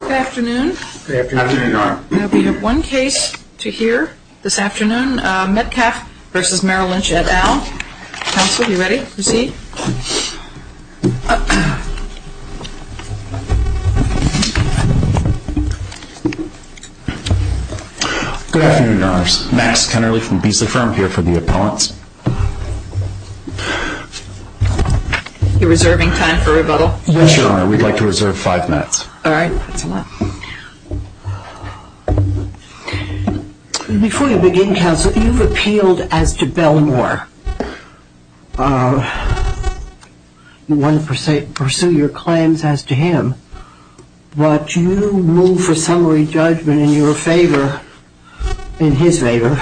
Good afternoon. Now we have one case to hear this afternoon, Metcalf v. Merrill Lynch et al. Counsel, you ready? Proceed. Good afternoon, Your Honors. Max Kennerly from Beasley Firm here for the appellants. You're reserving time for rebuttal? Yes, Your Honor. We'd like to reserve five minutes. All right. That's a lot. Before you begin, Counsel, you've appealed as to Bellmore. You want to pursue your claims as to him. But you move for summary judgment in your favor, in his favor,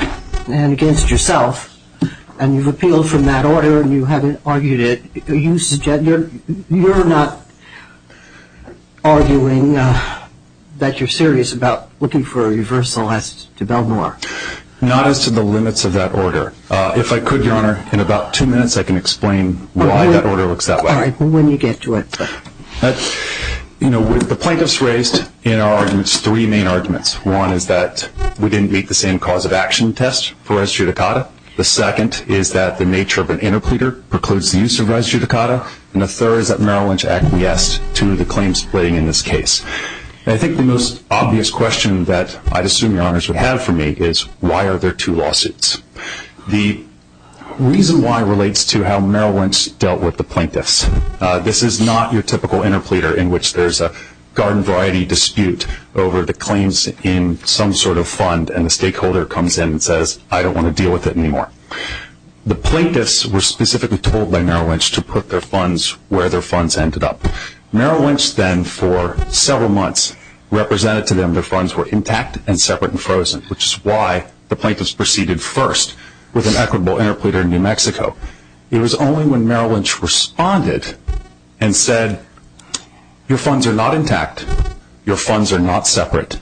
and against yourself. And you've appealed from that order and you haven't argued it. You're not arguing that you're serious about looking for a reversal as to Bellmore? Not as to the limits of that order. If I could, Your Honor, in about two minutes I can explain why that order looks that way. All right. When you get to it. You know, the plaintiffs raised in our arguments three main arguments. One is that we didn't meet the same cause of action test for res judicata. The second is that the nature of an interpleader precludes the use of res judicata. And the third is that Merrill Lynch acquiesced to the claim splitting in this case. And I think the most obvious question that I'd assume Your Honors would have for me is why are there two lawsuits? The reason why relates to how Merrill Lynch dealt with the plaintiffs. This is not your typical interpleader in which there's a garden variety dispute over the claims in some sort of fund and the stakeholder comes in and says, I don't want to deal with it anymore. The plaintiffs were specifically told by Merrill Lynch to put their funds where their funds ended up. Merrill Lynch then for several months represented to them their funds were intact and separate and frozen, which is why the plaintiffs proceeded first with an equitable interpleader in New Mexico. It was only when Merrill Lynch responded and said, your funds are not intact. Your funds are not separate.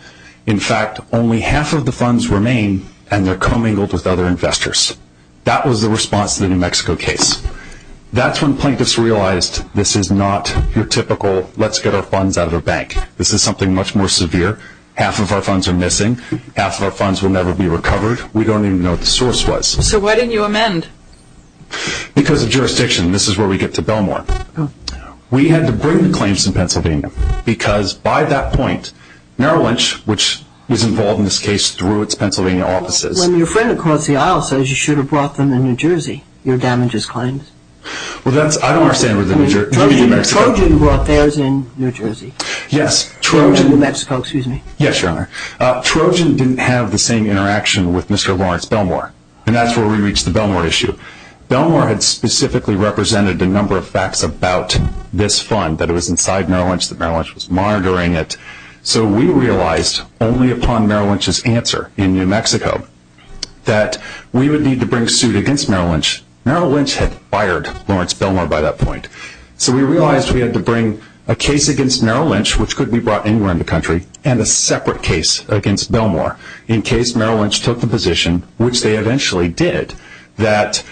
In fact, only half of the funds remain and they're commingled with other investors. That was the response to the New Mexico case. That's when plaintiffs realized this is not your typical let's get our funds out of the bank. This is something much more severe. Half of our funds are missing. Half of our funds will never be recovered. We don't even know what the source was. So why didn't you amend? Because of jurisdiction. This is where we get to Belmore. We had to bring the claims to Pennsylvania because by that point, Merrill Lynch, which was involved in this case through its Pennsylvania offices. When your friend across the aisle says you should have brought them to New Jersey, your damages claims. I don't understand. Trojan brought theirs in New Jersey. Yes, Trojan. In New Mexico, excuse me. Yes, Your Honor. Trojan didn't have the same interaction with Mr. Lawrence Belmore. And that's where we reached the Belmore issue. Belmore had specifically represented a number of facts about this fund that it was inside Merrill Lynch, that Merrill Lynch was monitoring it. So we realized only upon Merrill Lynch's answer in New Mexico that we would need to bring suit against Merrill Lynch. Merrill Lynch had fired Lawrence Belmore by that point. So we realized we had to bring a case against Merrill Lynch, which could be brought anywhere in the country, and a separate case against Belmore in case Merrill Lynch took the position, which they eventually did, that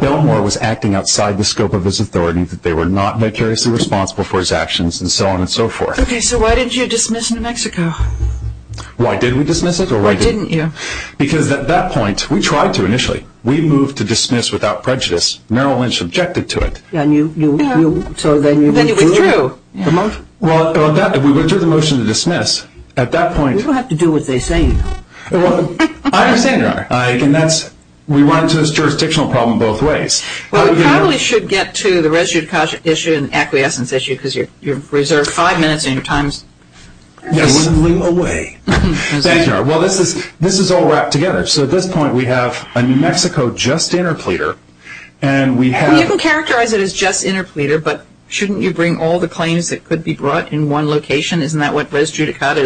Belmore was acting outside the scope of his authority, that they were not vicariously responsible for his actions, and so on and so forth. Okay, so why didn't you dismiss New Mexico? Why did we dismiss it? Why didn't you? Because at that point, we tried to initially. We moved to dismiss without prejudice. Merrill Lynch objected to it. And you withdrew. Well, we withdrew the motion to dismiss. At that point. We don't have to do what they say. I understand, Your Honor. We run into this jurisdictional problem both ways. Well, we probably should get to the residue caution issue and acquiescence issue, because you've reserved five minutes in your time. Yes. I wouldn't leave away. Thank you, Your Honor. Well, this is all wrapped together. So at this point, we have a New Mexico just interpleader, and we have... Why didn't you bring all the claims that could be brought in one location? Isn't that what res judicata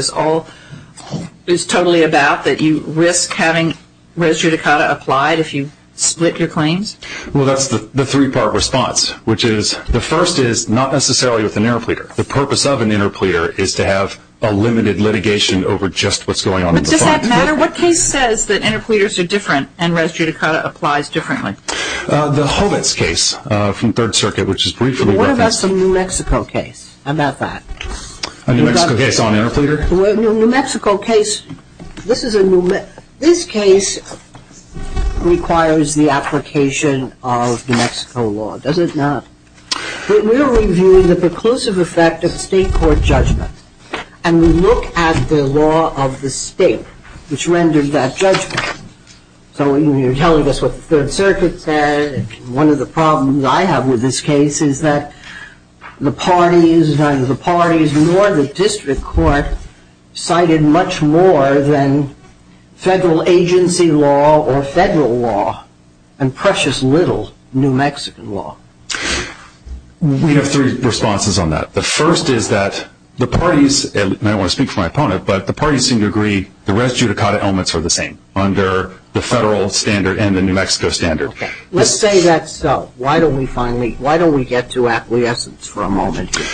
is totally about, that you risk having res judicata applied if you split your claims? Well, that's the three-part response, which is the first is not necessarily with an interpleader. The purpose of an interpleader is to have a limited litigation over just what's going on. But does that matter? What case says that interpleaders are different and res judicata applies differently? The Hovitz case from Third Circuit, which is briefly referenced... What about some New Mexico case? How about that? A New Mexico case on interpleader? A New Mexico case... This case requires the application of New Mexico law, does it not? We are reviewing the preclusive effect of state court judgment, and we look at the law of the state which renders that judgment. So you're telling us what Third Circuit said, and one of the problems I have with this case is that the parties, neither the parties nor the district court, cited much more than federal agency law or federal law, and precious little New Mexican law. We have three responses on that. The first is that the parties, and I don't want to speak for my opponent, but the parties seem to agree the res judicata elements are the same under the federal standard and the New Mexico standard. Let's say that's so. Why don't we get to acquiescence for a moment here?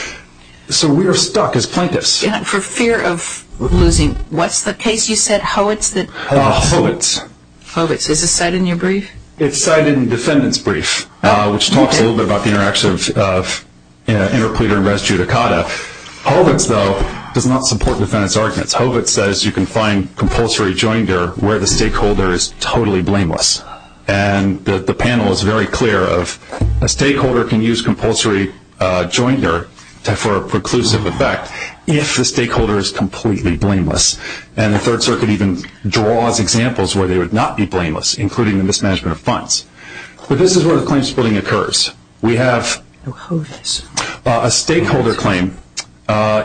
So we are stuck as plaintiffs. For fear of losing... What's the case you said, Hovitz? Hovitz. Hovitz. Is this cited in your brief? It's cited in the defendant's brief, which talks a little bit about the interaction of interpleader and res judicata. Hovitz, though, does not support defendant's arguments. Hovitz says you can find compulsory joinder where the stakeholder is totally blameless, and the panel is very clear of a stakeholder can use compulsory joinder for a preclusive effect if the stakeholder is completely blameless, and the Third Circuit even draws examples where they would not be blameless, including the mismanagement of funds. But this is where the claim splitting occurs. We have a stakeholder claim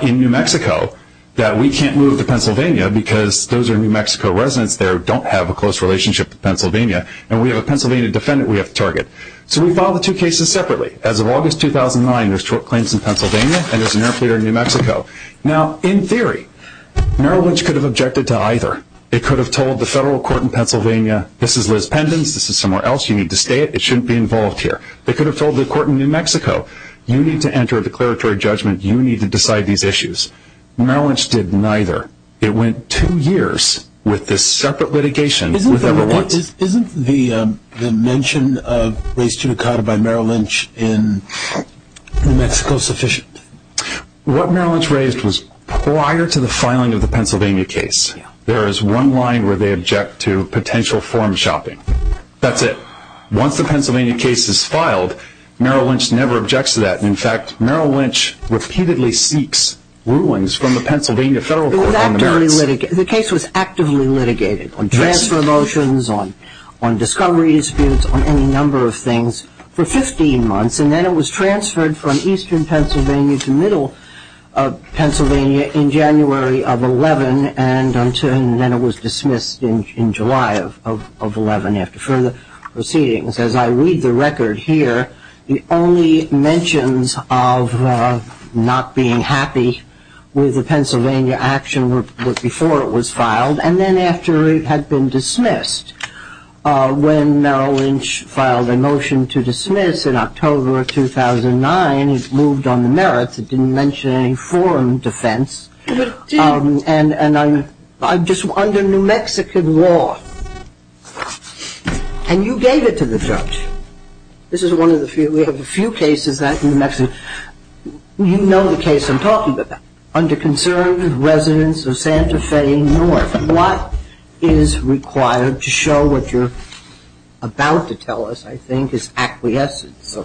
in New Mexico that we can't move to Pennsylvania because those are New Mexico residents there who don't have a close relationship to Pennsylvania, and we have a Pennsylvania defendant we have to target. So we filed the two cases separately. As of August 2009, there's two claims in Pennsylvania and there's an interpleader in New Mexico. Now, in theory, Merrill Lynch could have objected to either. It could have told the federal court in Pennsylvania, this is Liz Pendens, this is somewhere else, you need to stay, it shouldn't be involved here. It could have told the court in New Mexico, you need to enter a declaratory judgment, you need to decide these issues. Merrill Lynch did neither. It went two years with this separate litigation with everyone. Isn't the mention of race judicata by Merrill Lynch in New Mexico sufficient? What Merrill Lynch raised was prior to the filing of the Pennsylvania case, there is one line where they object to potential form shopping. That's it. Once the Pennsylvania case is filed, Merrill Lynch never objects to that. In fact, Merrill Lynch repeatedly seeks rulings from the Pennsylvania federal court on the merits. The case was actively litigated on transfer motions, on discovery disputes, on any number of things for 15 months, and then it was transferred from eastern Pennsylvania to middle Pennsylvania in January of 2011, and then it was dismissed in July of 2011 after further proceedings. As I read the record here, the only mentions of not being happy with the Pennsylvania action were before it was filed and then after it had been dismissed. When Merrill Lynch filed a motion to dismiss in October of 2009, it moved on the merits. It didn't mention any foreign defense. It did. And just under New Mexican law, and you gave it to the judge. This is one of the few. We have a few cases in New Mexico. You know the case I'm talking about. Under concerned residents of Santa Fe North, what is required to show what you're about to tell us, I think, is acquiescence.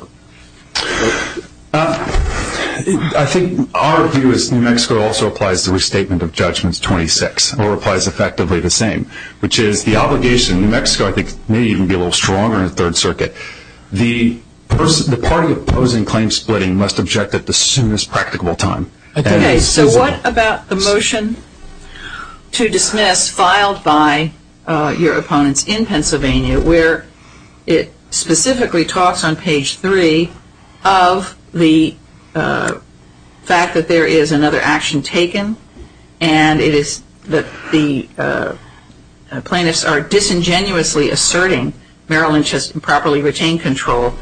I think our view is New Mexico also applies the restatement of judgments 26, or applies effectively the same, which is the obligation. New Mexico, I think, may even be a little stronger in the Third Circuit. The party opposing claim splitting must object at the soonest practicable time. Okay. So what about the motion to dismiss filed by your opponents in Pennsylvania where it specifically talks on page 3 of the fact that there is another action taken and it is that the plaintiffs are disingenuously asserting Merrill Lynch has improperly retained control,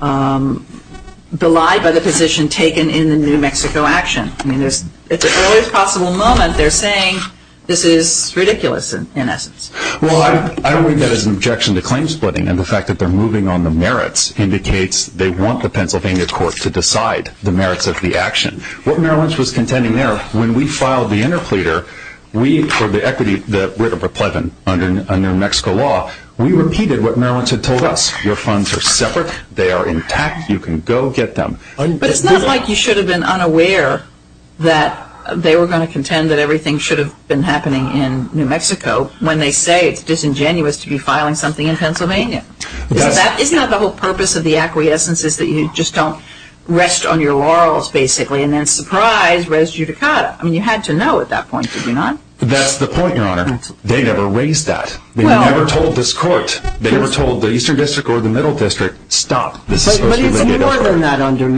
belied by the position taken in the New Mexico action. I mean, it's an early possible moment. They're saying this is ridiculous in essence. Well, I read that as an objection to claim splitting, and the fact that they're moving on the merits indicates they want the Pennsylvania court to decide the merits of the action. What Merrill Lynch was contending there, when we filed the interpleader, we for the equity that we're to pledge under New Mexico law, we repeated what Merrill Lynch had told us. Your funds are separate. They are intact. You can go get them. But it's not like you should have been unaware that they were going to contend that everything should have been happening in New Mexico when they say it's disingenuous to be filing something in Pennsylvania. Isn't that the whole purpose of the acquiescence is that you just don't rest on your laurels, basically, and then surprise res judicata? I mean, you had to know at that point, did you not? That's the point, Your Honor. They never raised that. They never told this court. They never told the Eastern District or the Middle District, stop. But it's more than that under New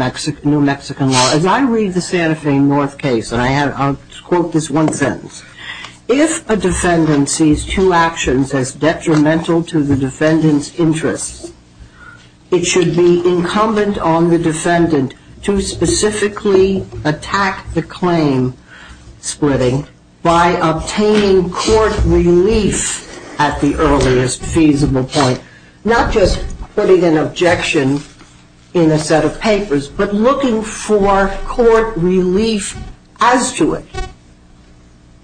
Mexican law. As I read the Santa Fe North case, and I'll quote this one sentence, if a defendant sees two actions as detrimental to the defendant's interests, it should be incumbent on the defendant to specifically attack the claim splitting by obtaining court relief at the earliest feasible point, not just putting an objection in a set of papers, but looking for court relief as to it.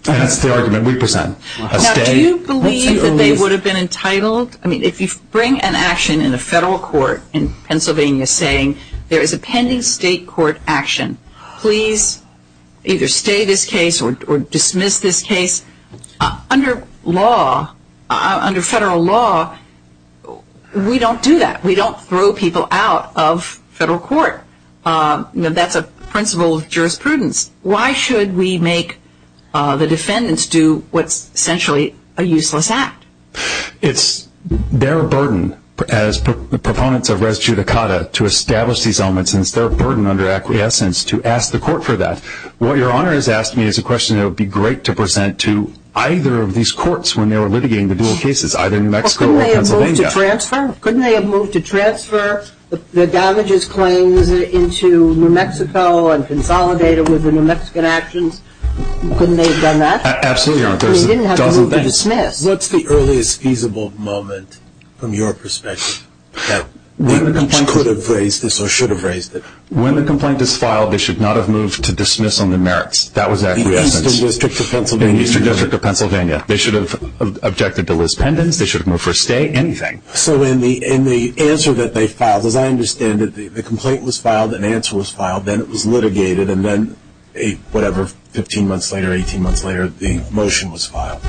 And that's the argument we present. Now, do you believe that they would have been entitled? I mean, if you bring an action in a federal court in Pennsylvania saying there is a pending state court action, please either stay this case or dismiss this case, under law, under federal law, we don't do that. We don't throw people out of federal court. That's a principle of jurisprudence. Why should we make the defendants do what's essentially a useless act? It's their burden as proponents of res judicata to establish these elements, and it's their burden under acquiescence to ask the court for that. What Your Honor has asked me is a question that would be great to present to either of these courts when they were litigating the dual cases, either New Mexico or Pennsylvania. Couldn't they have moved to transfer the damages claims into New Mexico and consolidate it with the New Mexican actions? Couldn't they have done that? Absolutely, Your Honor. They didn't have to move to dismiss. What's the earliest feasible moment from your perspective that they could have raised this or should have raised it? When the complaint is filed, they should not have moved to dismiss on the merits. That was acquiescence. In the Eastern District of Pennsylvania? In the Eastern District of Pennsylvania. They should have objected to Liz Pendens. They should have moved for a stay. Anything. So in the answer that they filed, as I understand it, the complaint was filed, an answer was filed, then it was litigated, and then whatever, 15 months later, 18 months later, the motion was filed.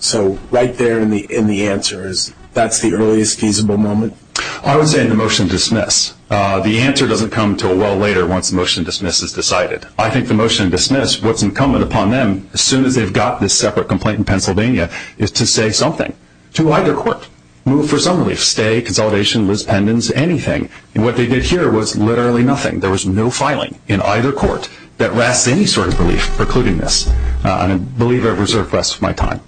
So right there in the answer, that's the earliest feasible moment? I would say the motion to dismiss. The answer doesn't come until well later once the motion to dismiss is decided. I think the motion to dismiss, what's incumbent upon them, as soon as they've got this separate complaint in Pennsylvania, is to say something to either court, move for some relief, stay, consolidation, Liz Pendens, anything. And what they did here was literally nothing. There was no filing in either court that rests any sort of belief precluding this. I believe I've reserved the rest of my time.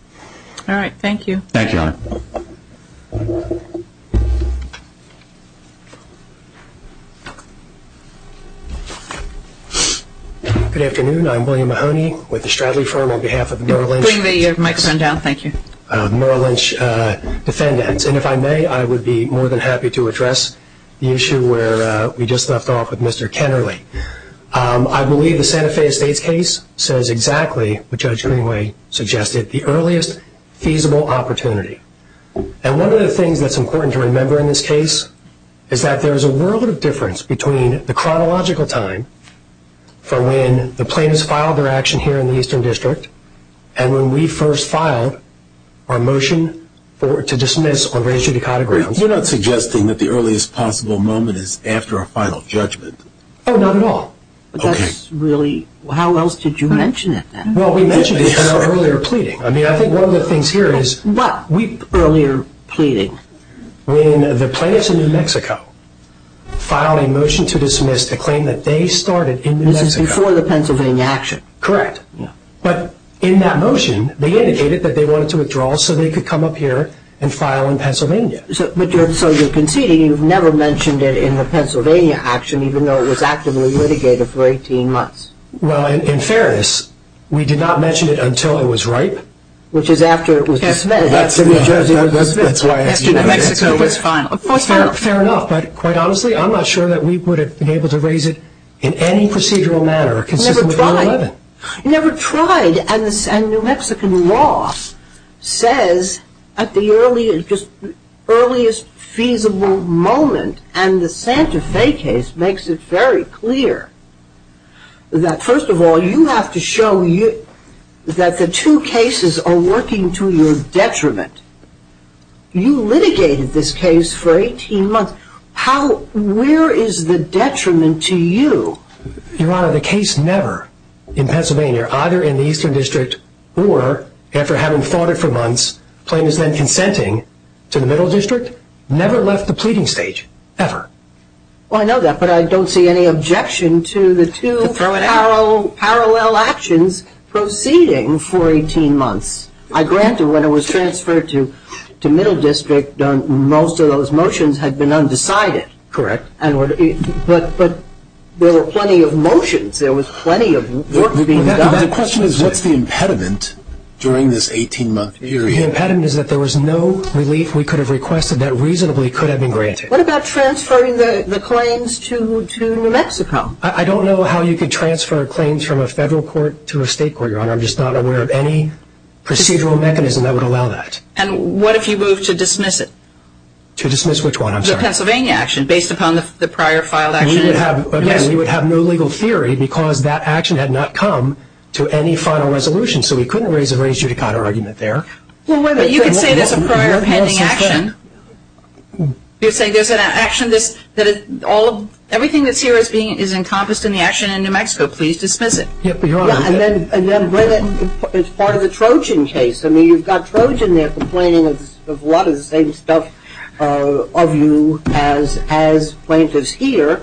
Thank you. Thank you, Your Honor. Good afternoon. I'm William Mahoney with the Stradley Firm on behalf of Merrill Lynch. Bring the microphone down. Thank you. Merrill Lynch defendants. And if I may, I would be more than happy to address the issue where we just left off with Mr. Kennerly. I believe the Santa Fe Estates case says exactly what Judge Greenway suggested, the earliest feasible opportunity. And one of the things that's important to remember in this case is that there is a world of difference between the chronological time for when the plaintiffs filed their action here in the Eastern District and when we first filed our motion to dismiss or raise judicata grounds. You're not suggesting that the earliest possible moment is after a final judgment? Oh, not at all. Okay. That's really, how else did you mention it then? Well, we mentioned it in our earlier pleading. I mean, I think one of the things here is... What earlier pleading? When the plaintiffs in New Mexico filed a motion to dismiss the claim that they started in New Mexico. This is before the Pennsylvania action. Correct. But in that motion, they indicated that they wanted to withdraw so they could come up here and file in Pennsylvania. So you're conceding you've never mentioned it in the Pennsylvania action even though it was actively litigated for 18 months. Well, in fairness, we did not mention it until it was ripe. Which is after it was dismissed. After New Mexico was final. Fair enough. But quite honestly, I'm not sure that we would have been able to raise it in any procedural manner consistent with Rule 11. You never tried. You never tried. And New Mexican law says at the earliest feasible moment, and the Santa Fe case makes it very clear, that first of all, you have to show that the two cases are working to your detriment. You litigated this case for 18 months. Where is the detriment to you? Your Honor, the case never in Pennsylvania, either in the Eastern District or after having fought it for months, plaintiffs then consenting to the Middle District, never left the pleading stage. Ever. Well, I know that, but I don't see any objection to the two parallel actions proceeding for 18 months. I grant that when it was transferred to Middle District, most of those motions had been undecided. Correct. But there were plenty of motions. There was plenty of work being done. The question is what's the impediment during this 18-month period? The impediment is that there was no relief we could have requested that reasonably could have been granted. What about transferring the claims to New Mexico? I don't know how you could transfer claims from a federal court to a state court, Your Honor. I'm just not aware of any procedural mechanism that would allow that. And what if you moved to dismiss it? To dismiss which one? The Pennsylvania action based upon the prior filed action. Again, we would have no legal theory because that action had not come to any final resolution, so we couldn't raise a raised-judicata argument there. You could say there's a prior pending action. You're saying there's an action that everything that's here is encompassed in the action in New Mexico. Please dismiss it. And then it's part of the Trojan case. I mean, you've got Trojan there complaining of a lot of the same stuff of you as plaintiffs here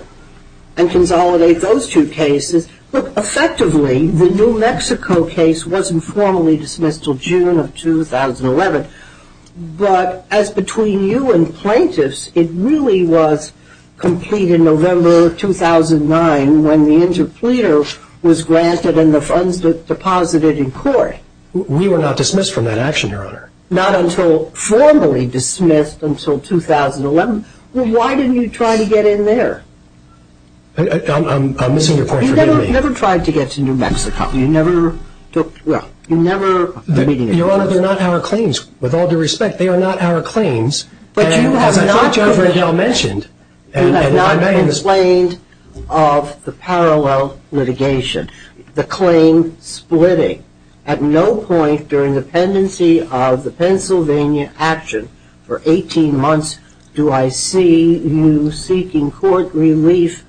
and consolidate those two cases. Look, effectively, the New Mexico case wasn't formally dismissed until June of 2011, but as between you and plaintiffs, it really was completed November of 2009 when the interpleader was granted and the funds deposited in court. We were not dismissed from that action, Your Honor. Not until formally dismissed until 2011. Well, why didn't you try to get in there? I'm missing your point, forgive me. You never tried to get to New Mexico. You never took, well, you never... Your Honor, they're not our claims. With all due respect, they are not our claims. But you have not... As I thought you already mentioned... You have not explained of the parallel litigation, the claim splitting. At no point during the pendency of the Pennsylvania action for 18 months do I see you seeking court relief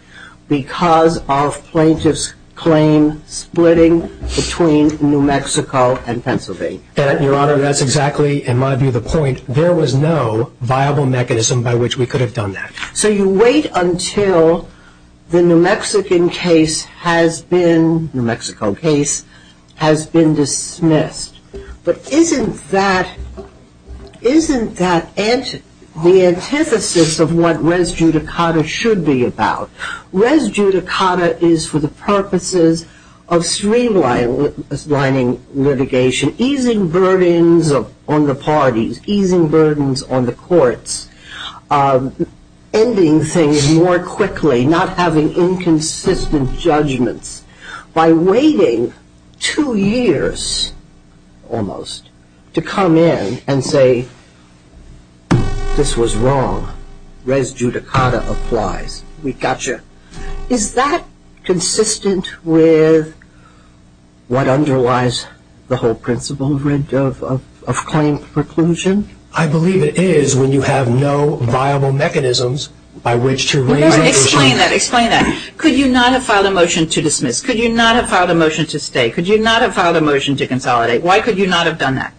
because of plaintiff's claim splitting between New Mexico and Pennsylvania. Your Honor, that's exactly, in my view, the point. There was no viable mechanism by which we could have done that. So you wait until the New Mexican case has been, New Mexico case, has been dismissed. But isn't that, isn't that the antithesis of what res judicata should be about? Res judicata is for the purposes of streamlining litigation, easing burdens on the parties, easing burdens on the courts, ending things more quickly, not having inconsistent judgments. By waiting two years, almost, to come in and say, this was wrong, res judicata applies, we got you. Is that consistent with what underlies the whole principle of claim preclusion? I believe it is when you have no viable mechanisms by which to raise litigation. Explain that, explain that. Could you not have filed a motion to dismiss? Could you not have filed a motion to stay? Could you not have filed a motion to consolidate? Why could you not have done that?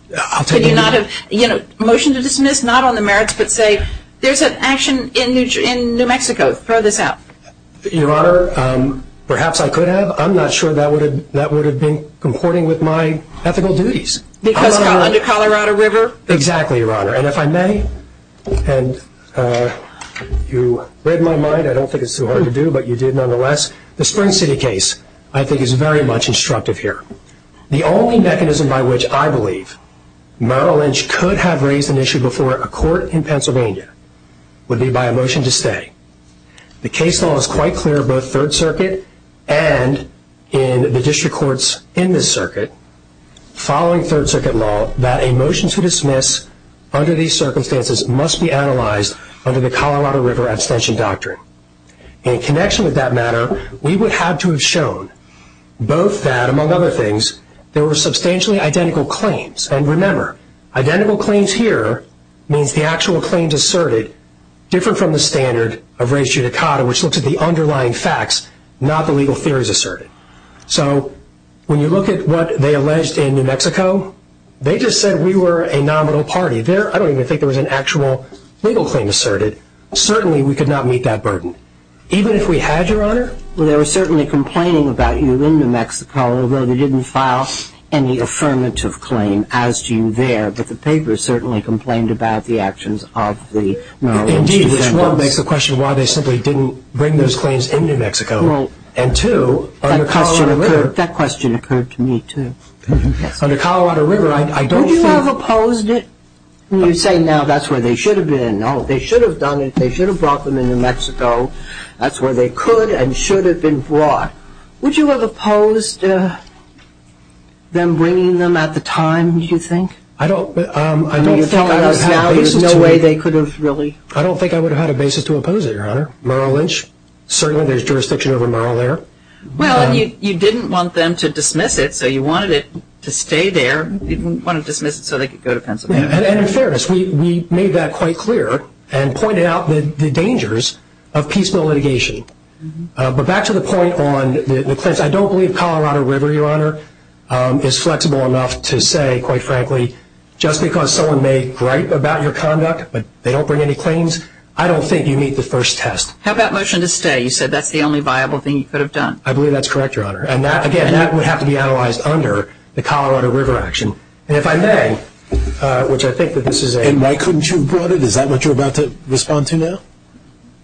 Could you not have, you know, motion to dismiss, not on the merits, but say, there's an action in New Mexico. Throw this out. Your Honor, perhaps I could have. I'm not sure that would have been comporting with my ethical duties. Because under Colorado River? Exactly, Your Honor. And if I may, and you read my mind, I don't think it's too hard to do, but you did nonetheless. The Spring City case, I think, is very much instructive here. The only mechanism by which I believe Merrill Lynch could have raised an issue before a court in Pennsylvania would be by a motion to stay. The case law is quite clear, both Third Circuit and in the district courts in this circuit, following Third Circuit law, that a motion to dismiss under these circumstances must be analyzed under the Colorado River abstention doctrine. In connection with that matter, we would have to have shown both that, among other things, there were substantially identical claims. And remember, identical claims here means the actual claims asserted different from the standard of res judicata, which looks at the underlying facts, not the legal theories asserted. So when you look at what they alleged in New Mexico, they just said we were a nominal party. I don't even think there was an actual legal claim asserted. Certainly, we could not meet that burden. Even if we had, Your Honor. Well, they were certainly complaining about you in New Mexico, although they didn't file any affirmative claim as to you there. But the paper certainly complained about the actions of the Merrill Lynch defendants. Indeed, which, one, makes the question why they simply didn't bring those claims in New Mexico. And two, under Colorado River. That question occurred to me, too. Under Colorado River, I don't think. Would you have opposed it? You say now that's where they should have been. No, they should have done it. They should have brought them in New Mexico. That's where they could and should have been brought. Would you have opposed them bringing them at the time, do you think? I don't think I would have had a basis to. There's no way they could have really. I don't think I would have had a basis to oppose it, Your Honor. Merrill Lynch, certainly there's jurisdiction over Merrill there. Well, you didn't want them to dismiss it, so you wanted it to stay there. You didn't want to dismiss it so they could go to Pennsylvania. And in fairness, we made that quite clear and pointed out the dangers of peaceful litigation. But back to the point on the claims. I don't believe Colorado River, Your Honor, is flexible enough to say, quite frankly, just because someone may gripe about your conduct but they don't bring any claims, I don't think you meet the first test. How about motion to stay? You said that's the only viable thing you could have done. I believe that's correct, Your Honor. And, again, that would have to be analyzed under the Colorado River action. And if I may, which I think that this is a— And why couldn't you have brought it? Is that what you're about to respond to now?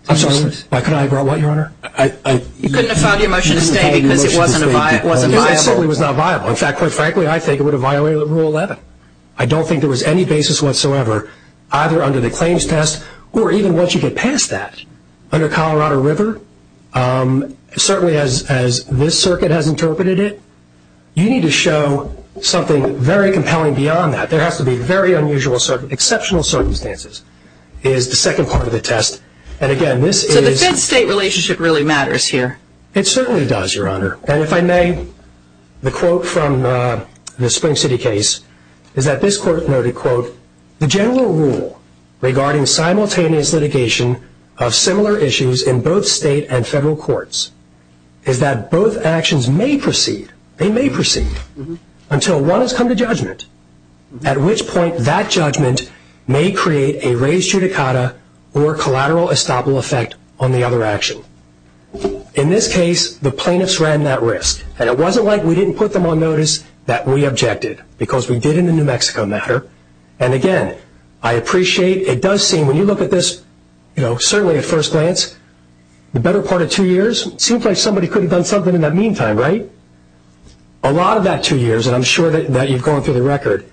I'm sorry, what? Why couldn't I have brought what, Your Honor? You couldn't have filed your motion to stay because it wasn't viable. No, it certainly was not viable. In fact, quite frankly, I think it would have violated Rule 11. I don't think there was any basis whatsoever, either under the claims test or even once you get past that, under Colorado River. Certainly as this circuit has interpreted it, you need to show something very compelling beyond that. There has to be very unusual, exceptional circumstances is the second part of the test. And, again, this is— So the Fed-State relationship really matters here. It certainly does, Your Honor. And if I may, the quote from the Spring City case is that this court noted, the general rule regarding simultaneous litigation of similar issues in both state and federal courts is that both actions may proceed. They may proceed until one has come to judgment, at which point that judgment may create a res judicata or collateral estoppel effect on the other action. So, in this case, the plaintiffs ran that risk. And it wasn't like we didn't put them on notice that we objected, because we did in the New Mexico matter. And, again, I appreciate it does seem, when you look at this, certainly at first glance, the better part of two years? It seems like somebody could have done something in that meantime, right? A lot of that two years, and I'm sure that you've gone through the record,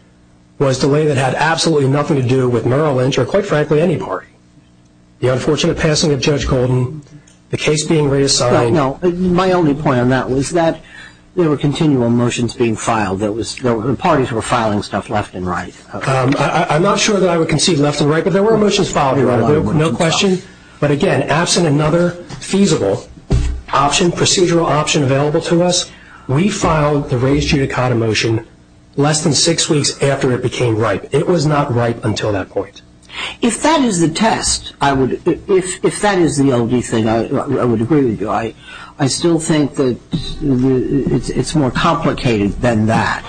was delay that had absolutely nothing to do with Merrill Lynch or, quite frankly, any party. The unfortunate passing of Judge Golden, the case being reassigned. No, my only point on that was that there were continual motions being filed. The parties were filing stuff left and right. I'm not sure that I would concede left and right, but there were motions filed. No question. But, again, absent another feasible option, procedural option available to us, we filed the res judicata motion less than six weeks after it became ripe. It was not ripe until that point. If that is the test, if that is the only thing I would agree with you, I still think that it's more complicated than that.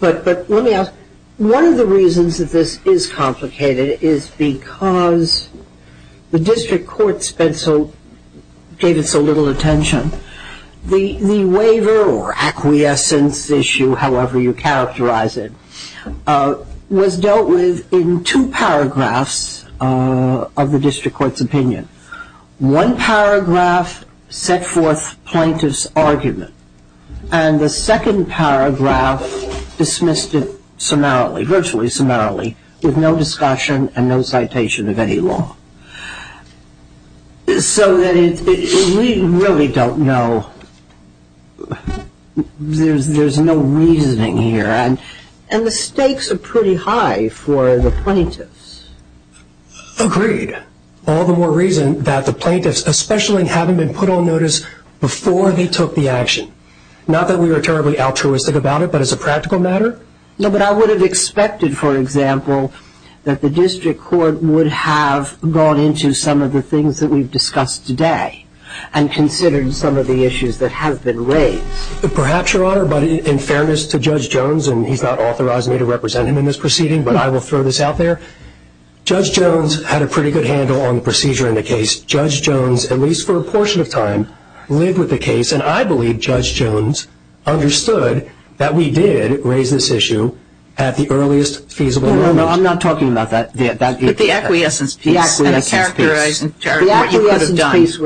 But let me ask, one of the reasons that this is complicated is because the district court gave it so little attention. The waiver or acquiescence issue, however you characterize it, was dealt with in two paragraphs of the district court's opinion. One paragraph set forth plaintiff's argument, and the second paragraph dismissed it summarily, virtually summarily, with no discussion and no citation of any law. So we really don't know. There's no reasoning here. And the stakes are pretty high for the plaintiffs. Agreed. All the more reason that the plaintiffs especially haven't been put on notice before they took the action. Not that we were terribly altruistic about it, but as a practical matter. No, but I would have expected, for example, that the district court would have gone into some of the things that we've discussed today and considered some of the issues that have been raised. Perhaps, Your Honor, but in fairness to Judge Jones, and he's not authorized me to represent him in this proceeding, but I will throw this out there, Judge Jones had a pretty good handle on the procedure in the case. Judge Jones, at least for a portion of time, lived with the case, and I believe Judge Jones understood that we did raise this issue at the earliest feasible moment. No, no, I'm not talking about that. But the acquiescence piece. The acquiescence piece. And the characterization. The acquiescence piece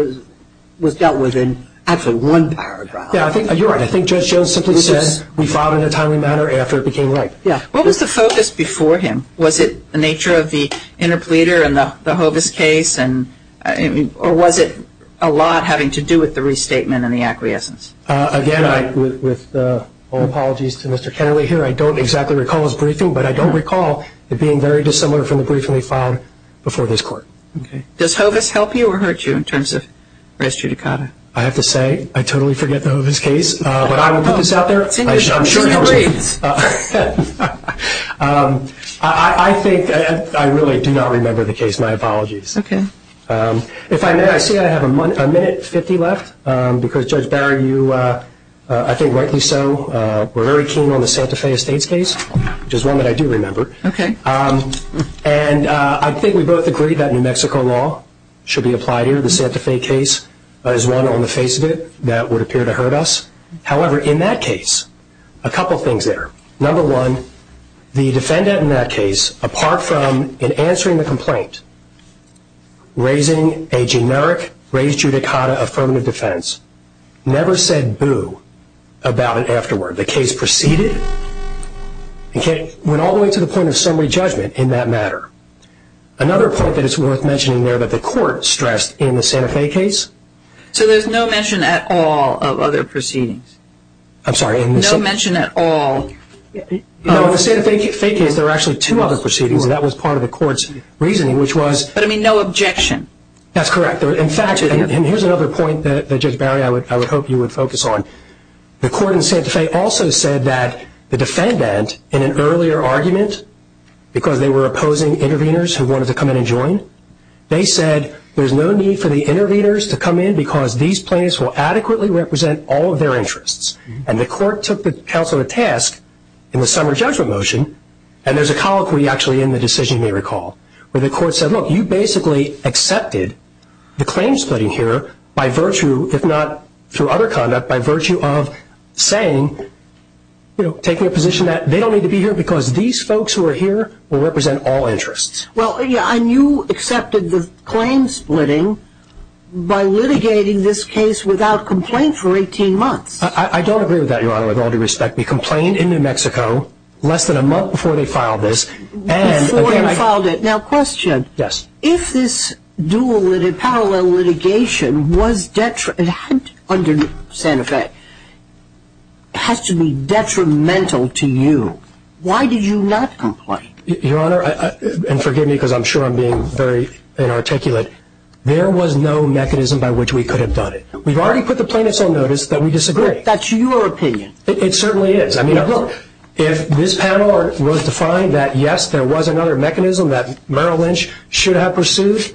was dealt with in actually one paragraph. Yeah, you're right. I think Judge Jones simply said we filed it in a timely manner after it became light. Yeah. What was the focus before him? Was it the nature of the interpleader in the Hovis case? Or was it a lot having to do with the restatement and the acquiescence? Again, with all apologies to Mr. Kennelly here, I don't exactly recall his briefing, but I don't recall it being very dissimilar from the briefing we filed before this Court. Okay. Does Hovis help you or hurt you in terms of res judicata? I have to say I totally forget the Hovis case, but I will put this out there. I'm sure it helps me. I think I really do not remember the case. That's my apologies. Okay. If I may, I see I have a minute 50 left because, Judge Barron, you, I think rightly so, were very keen on the Santa Fe Estates case, which is one that I do remember. Okay. And I think we both agreed that New Mexico law should be applied here. The Santa Fe case is one on the face of it that would appear to hurt us. However, in that case, a couple things there. Number one, the defendant in that case, apart from in answering the complaint, raising a generic res judicata affirmative defense, never said boo about it afterward. The case proceeded and went all the way to the point of summary judgment in that matter. Another point that is worth mentioning there that the Court stressed in the Santa Fe case. So there's no mention at all of other proceedings? I'm sorry. No mention at all. No, in the Santa Fe case, there were actually two other proceedings, and that was part of the Court's reasoning, which was. But, I mean, no objection. That's correct. In fact, and here's another point that, Judge Barron, I would hope you would focus on. The Court in Santa Fe also said that the defendant, in an earlier argument, because they were opposing interveners who wanted to come in and join, they said there's no need for the interveners to come in because these plaintiffs will adequately represent all of their interests. And the Court took the counsel to task in the summary judgment motion, and there's a colloquy actually in the decision, you may recall, where the Court said, look, you basically accepted the claim splitting here by virtue, if not through other conduct, by virtue of saying, you know, taking a position that they don't need to be here because these folks who are here will represent all interests. Well, and you accepted the claim splitting by litigating this case without complaint for 18 months. I don't agree with that, Your Honor, with all due respect. We complained in New Mexico less than a month before they filed this. Before you filed it. Now, question. Yes. If this dual, parallel litigation was, under Santa Fe, has to be detrimental to you, why did you not complain? Your Honor, and forgive me because I'm sure I'm being very inarticulate, there was no mechanism by which we could have done it. We've already put the plaintiffs on notice that we disagree. That's your opinion. It certainly is. I mean, look, if this panel was to find that, yes, there was another mechanism that Merrill Lynch should have pursued,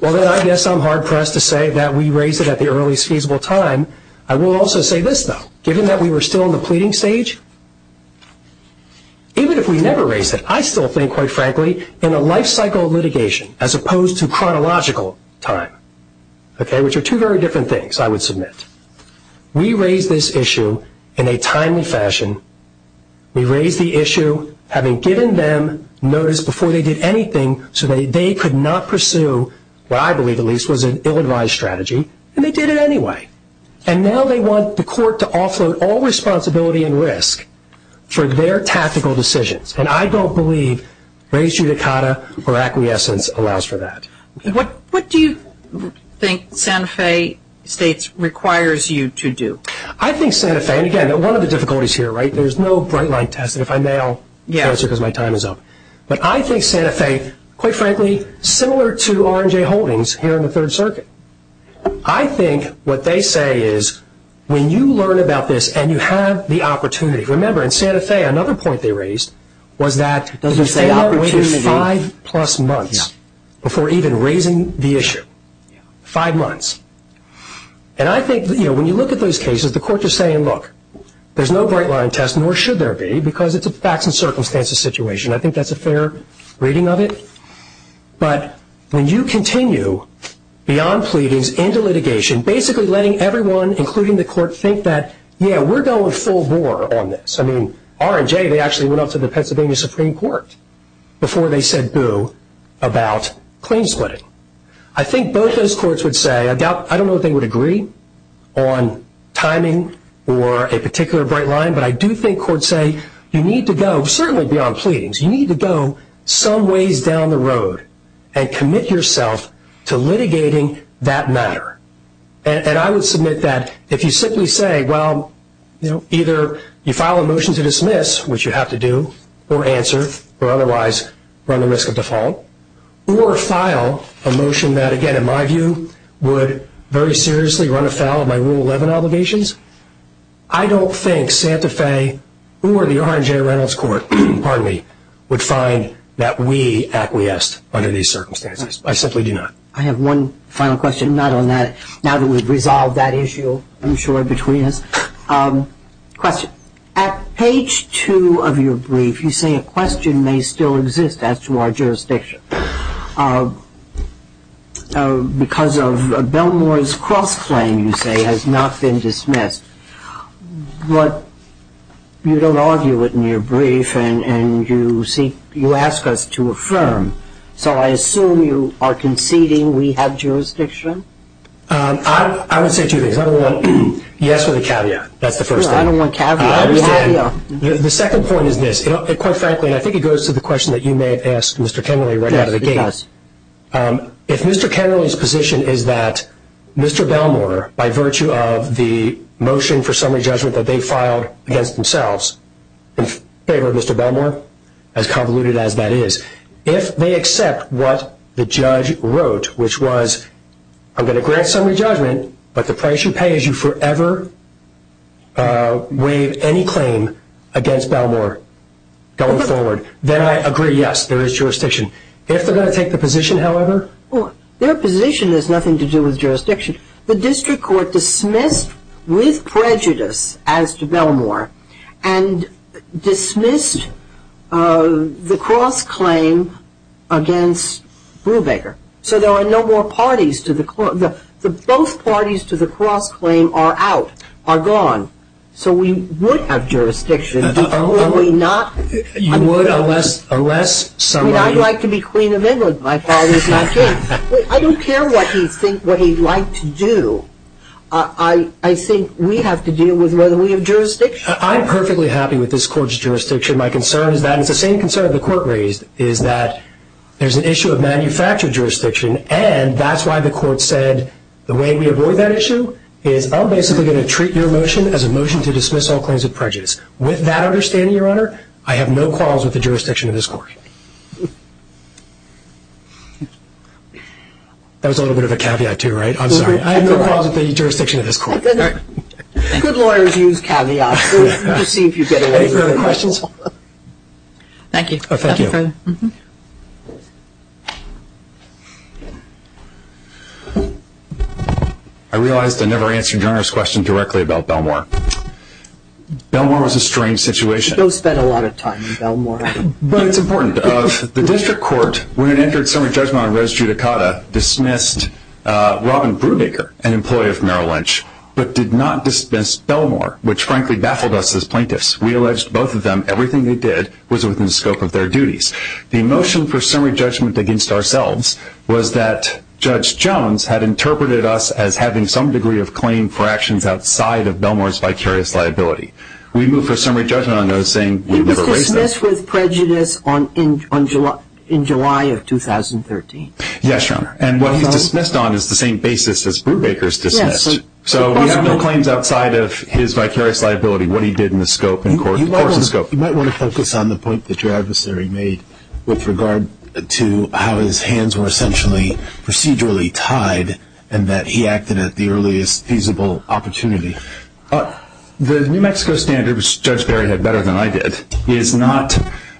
well, then I guess I'm hard-pressed to say that we raised it at the earliest feasible time. I will also say this, though. Given that we were still in the pleading stage, even if we never raised it, I still think, quite frankly, in a life-cycle litigation as opposed to chronological time, okay, which are two very different things, I would submit. We raised this issue in a timely fashion. We raised the issue having given them notice before they did anything so that they could not pursue what I believe, at least, was an ill-advised strategy, and they did it anyway. And now they want the court to offload all responsibility and risk for their tactical decisions, and I don't believe rejudicata or acquiescence allows for that. What do you think Santa Fe States requires you to do? I think Santa Fe, and again, one of the difficulties here, right, there's no bright-line test, and if I mail faster because my time is up. But I think Santa Fe, quite frankly, similar to R&J Holdings here in the Third Circuit, I think what they say is when you learn about this and you have the opportunity. Remember, in Santa Fe, another point they raised was that the court waited five-plus months before even raising the issue, five months. And I think when you look at those cases, the court is saying, look, there's no bright-line test, nor should there be, because it's a facts and circumstances situation. I think that's a fair reading of it. But when you continue beyond pleadings into litigation, basically letting everyone, including the court, think that, yeah, we're going full bore on this. I mean, R&J, they actually went up to the Pennsylvania Supreme Court before they said boo about claim splitting. I think both those courts would say, I don't know if they would agree on timing or a particular bright-line, but I do think courts say you need to go, certainly beyond pleadings, you need to go some ways down the road and commit yourself to litigating that matter. And I would submit that if you simply say, well, either you file a motion to dismiss, which you have to do, or answer, or otherwise run the risk of default, or file a motion that, again, in my view, would very seriously run afoul of my Rule 11 obligations, I don't think Santa Fe or the R&J Reynolds Court, pardon me, would find that we acquiesced under these circumstances. I simply do not. I have one final question, not on that. Now that we've resolved that issue, I'm sure, between us. Question. At page two of your brief, you say a question may still exist as to our jurisdiction because of Belmore's cross-claim, you say, has not been dismissed. But you don't argue it in your brief, and you ask us to affirm. So I assume you are conceding we have jurisdiction? I would say two things. Number one, yes with a caveat. That's the first thing. I don't want a caveat. I understand. The second point is this. Quite frankly, and I think it goes to the question that you may have asked Mr. Kennerly right out of the gate. Yes, it does. If Mr. Kennerly's position is that Mr. Belmore, by virtue of the motion for summary judgment that they filed against themselves in favor of Mr. Belmore, as convoluted as that is, if they accept what the judge wrote, which was, I'm going to grant summary judgment, but the price you pay is you forever waive any claim against Belmore going forward. Then I agree, yes, there is jurisdiction. If they're going to take the position, however. Their position has nothing to do with jurisdiction. The district court dismissed with prejudice as to Belmore and dismissed the cross-claim against Brubaker. So there are no more parties to the cross-claim. Both parties to the cross-claim are out, are gone. So we would have jurisdiction. Would we not? You would, unless somebody. I'd like to be queen of England. My father's not king. I don't care what he'd like to do. I think we have to deal with whether we have jurisdiction. I'm perfectly happy with this court's jurisdiction. My concern is that it's the same concern the court raised, is that there's an issue of manufactured jurisdiction, and that's why the court said the way we avoid that issue is I'm basically going to treat your motion as a motion to dismiss all claims of prejudice. With that understanding, Your Honor, I have no qualms with the jurisdiction of this court. That was a little bit of a caveat, too, right? I'm sorry. I have no qualms with the jurisdiction of this court. Good lawyers use caveats. We'll just see if you get away with it. Any further questions? Thank you. Thank you. I realized I never answered Your Honor's question directly about Belmore. Belmore was a strange situation. Joe spent a lot of time in Belmore. But it's important. The district court, when it entered summary judgment on res judicata, dismissed Robin Brubaker, an employee of Merrill Lynch, but did not dismiss Belmore, which frankly baffled us as plaintiffs. We alleged both of them everything they did was within the scope of their duties. The motion for summary judgment against ourselves was that Judge Jones had interpreted us as having some degree of claim for actions outside of Belmore's vicarious liability. We moved for summary judgment on those saying we were racist. He was dismissed with prejudice in July of 2013. Yes, Your Honor. And what he's dismissed on is the same basis as Brubaker's dismissed. So we have no claims outside of his vicarious liability, what he did in the scope. You might want to focus on the point that your adversary made with regard to how his hands were essentially procedurally tied and that he acted at the earliest feasible opportunity. The New Mexico standard, which Judge Barry had better than I did, is not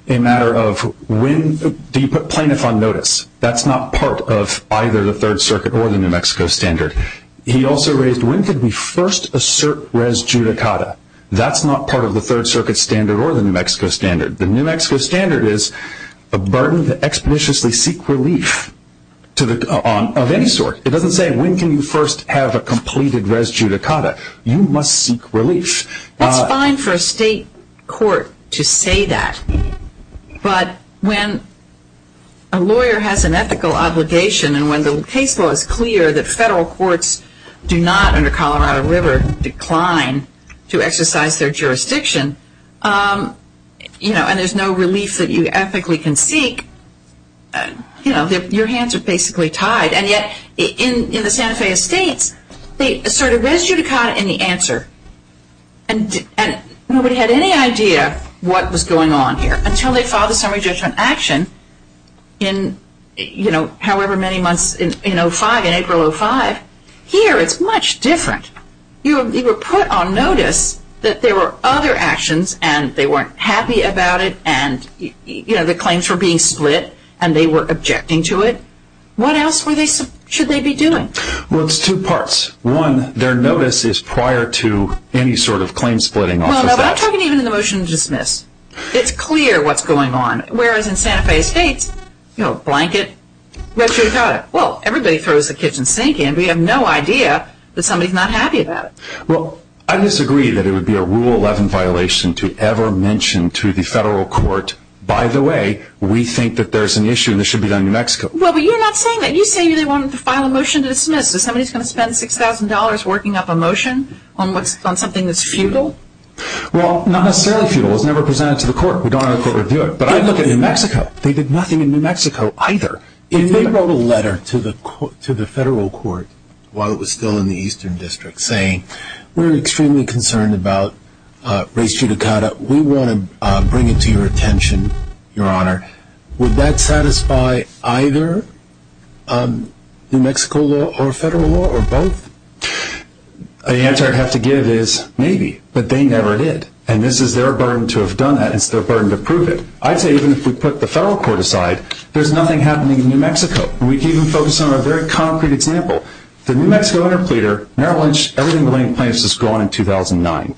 a matter of when do you put plaintiff on notice. That's not part of either the Third Circuit or the New Mexico standard. He also raised when could we first assert res judicata. That's not part of the Third Circuit standard or the New Mexico standard. The New Mexico standard is a burden to expeditiously seek relief of any sort. It doesn't say when can you first have a completed res judicata. You must seek relief. It's fine for a state court to say that, but when a lawyer has an ethical obligation and when the case law is clear that federal courts do not, under Colorado River, decline to exercise their jurisdiction and there's no relief that you ethically can seek, your hands are basically tied. And yet in the Santa Fe Estates, they asserted res judicata in the answer and nobody had any idea what was going on here until they filed a summary judgment action in however many months, in 05, in April 05. Here it's much different. You were put on notice that there were other actions and they weren't happy about it and the claims were being split and they were objecting to it. What else should they be doing? Well, it's two parts. One, their notice is prior to any sort of claim splitting. Well, I'm talking even in the motion to dismiss. It's clear what's going on, whereas in Santa Fe Estates, blanket, res judicata. Well, everybody throws the kitchen sink in. We have no idea that somebody's not happy about it. Well, I disagree that it would be a Rule 11 violation to ever mention to the federal court, by the way, we think that there's an issue and it should be done in New Mexico. Well, but you're not saying that. You say they wanted to file a motion to dismiss. Is somebody going to spend $6,000 working up a motion on something that's futile? Well, not necessarily futile. It was never presented to the court. We don't know if they would do it. But I look at New Mexico. They did nothing in New Mexico either. If they wrote a letter to the federal court while it was still in the Eastern District saying, we're extremely concerned about res judicata, we want to bring it to your attention, Your Honor, would that satisfy either New Mexico law or federal law or both? The answer I'd have to give is maybe. But they never did. And this is their burden to have done that. It's their burden to prove it. I'd say even if we put the federal court aside, there's nothing happening in New Mexico. We can even focus on a very concrete example. The New Mexico interpleader, Merrill Lynch, everything relating to plaintiffs is gone in 2009.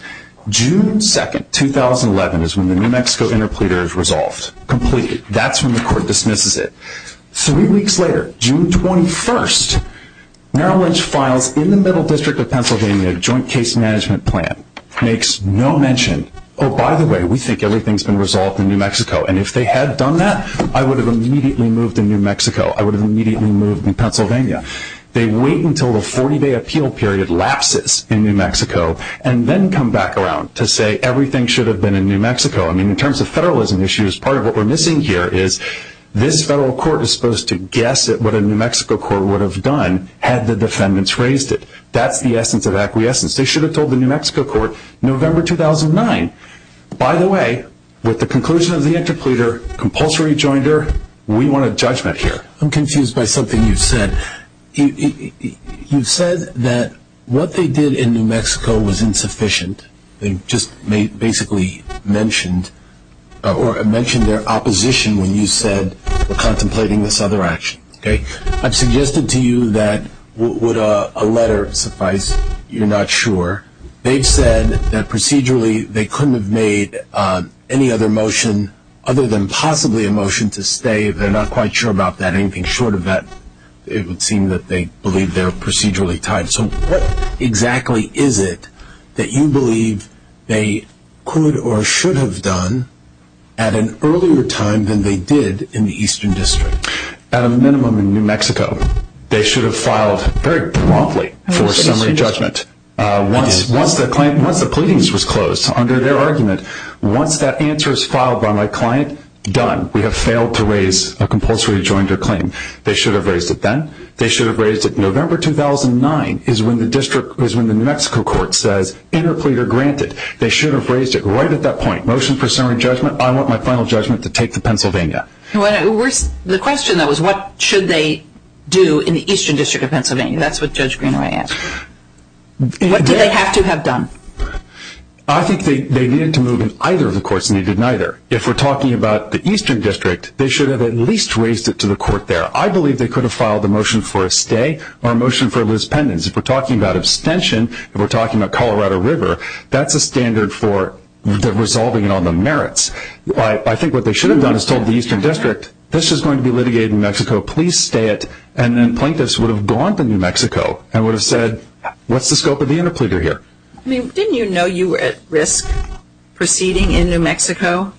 June 2, 2011 is when the New Mexico interpleader is resolved, completed. That's when the court dismisses it. Three weeks later, June 21, Merrill Lynch files in the Middle District of Pennsylvania a joint case management plan, makes no mention. Oh, by the way, we think everything's been resolved in New Mexico. And if they had done that, I would have immediately moved to New Mexico. I would have immediately moved to Pennsylvania. They wait until the 40-day appeal period lapses in New Mexico and then come back around to say everything should have been in New Mexico. In terms of federalism issues, part of what we're missing here is this federal court is supposed to guess at what a New Mexico court would have done had the defendants raised it. That's the essence of acquiescence. They should have told the New Mexico court November 2009. By the way, with the conclusion of the interpleader, compulsory rejoinder, we want a judgment here. I'm confused by something you've said. You've said that what they did in New Mexico was insufficient. They just basically mentioned their opposition when you said they're contemplating this other action. I've suggested to you that would a letter suffice? You're not sure. They've said that procedurally they couldn't have made any other motion other than possibly a motion to stay. They're not quite sure about that. Anything short of that, it would seem that they believe they're procedurally tied. What exactly is it that you believe they could or should have done at an earlier time than they did in the Eastern District? At a minimum in New Mexico, they should have filed very promptly for a summary judgment. Once the pleadings was closed, under their argument, once that answer is filed by my client, done. We have failed to raise a compulsory rejoinder claim. They should have raised it then. They should have raised it. November 2009 is when the New Mexico court says interpleader granted. They should have raised it right at that point. Motion for summary judgment. I want my final judgment to take the Pennsylvania. The question, though, is what should they do in the Eastern District of Pennsylvania? That's what Judge Greenway asked. What do they have to have done? I think they needed to move and either of the courts needed neither. If we're talking about the Eastern District, they should have at least raised it to the court there. I believe they could have filed a motion for a stay or a motion for a lus pendens. If we're talking about abstention, if we're talking about Colorado River, that's a standard for resolving it on the merits. I think what they should have done is told the Eastern District, this is going to be litigated in New Mexico, please stay it, and then plaintiffs would have gone to New Mexico and would have said, what's the scope of the interpleader here? Didn't you know you were at risk proceeding in New Mexico?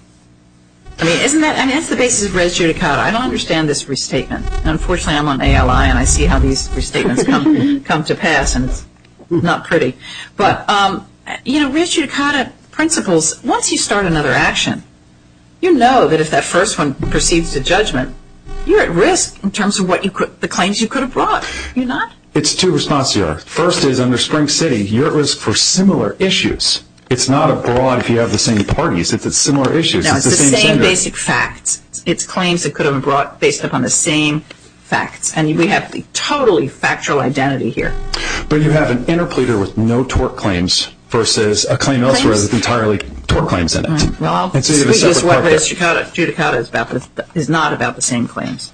That's the basis of res judicata. I don't understand this restatement. Unfortunately, I'm on ALI, and I see how these restatements come to pass, and it's not pretty. Res judicata principles, once you start another action, you know that if that first one proceeds to judgment, you're at risk in terms of the claims you could have brought. You're not? It's two responses. First is under Spring City, you're at risk for similar issues. It's not a broad if you have the same parties. It's similar issues. No, it's the same basic facts. It's claims that could have been brought based upon the same facts, and we have the totally factual identity here. But you have an interpleader with no tort claims versus a claim elsewhere that's entirely tort claims in it. Right. Well, I'll just say that rest judicata is not about the same claims.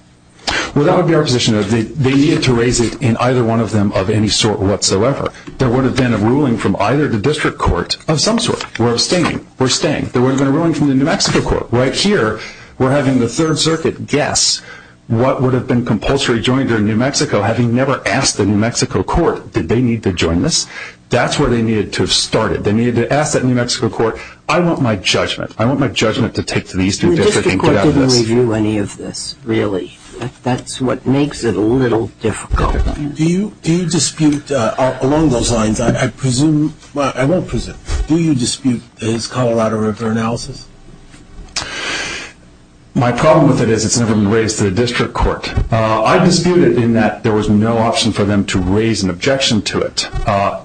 Well, that would be our position. They need to raise it in either one of them of any sort whatsoever. There would have been a ruling from either the district court of some sort. We're abstaining. We're staying. There would have been a ruling from the New Mexico court. Right here, we're having the Third Circuit guess what would have been compulsory joining during New Mexico, having never asked the New Mexico court did they need to join this. That's where they needed to have started. They needed to ask that New Mexico court, I want my judgment. I want my judgment to take to the Eastern District and get out of this. The district court didn't review any of this, really. That's what makes it a little difficult. Do you dispute along those lines? I presume, well, I won't presume. Do you dispute his Colorado River analysis? My problem with it is it's never been raised to the district court. I dispute it in that there was no option for them to raise an objection to it.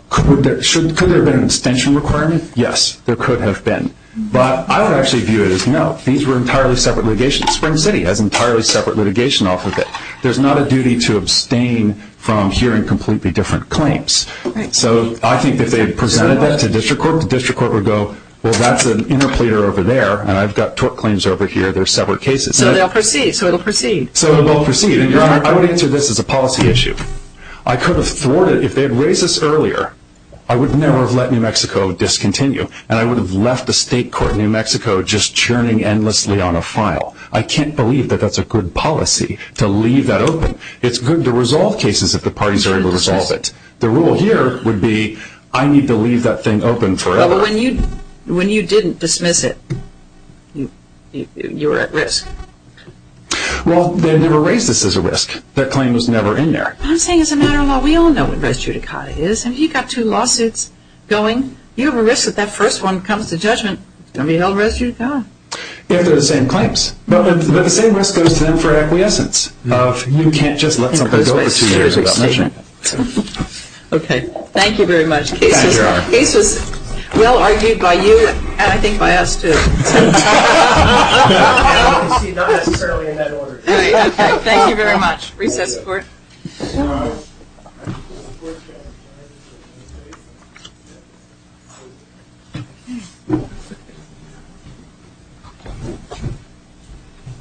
Could there have been an extension requirement? Yes, there could have been. But I would actually view it as no. These were entirely separate litigations. Spring City has entirely separate litigation off of it. There's not a duty to abstain from hearing completely different claims. So I think if they had presented that to district court, the district court would go, well, that's an interpleader over there, and I've got tort claims over here. They're separate cases. So they'll proceed. So they'll proceed. And, Your Honor, I would answer this as a policy issue. I could have thwarted it if they had raised this earlier. I would never have let New Mexico discontinue, and I would have left the state court in New Mexico just churning endlessly on a file. I can't believe that that's a good policy to leave that open. It's good to resolve cases if the parties are able to resolve it. The rule here would be I need to leave that thing open forever. But when you didn't dismiss it, you were at risk. Well, they never raised this as a risk. That claim was never in there. I'm saying as a matter of law, we all know what res judicata is. Have you got two lawsuits going? You have a risk that that first one comes to judgment, it's going to be held res judicata. If they're the same claims. But the same risk goes to them for acquiescence. You can't just let something go for two years without measuring it. Okay. Thank you very much. The case was well-argued by you, and I think by us, too. Thank you very much. Recess. Thank you.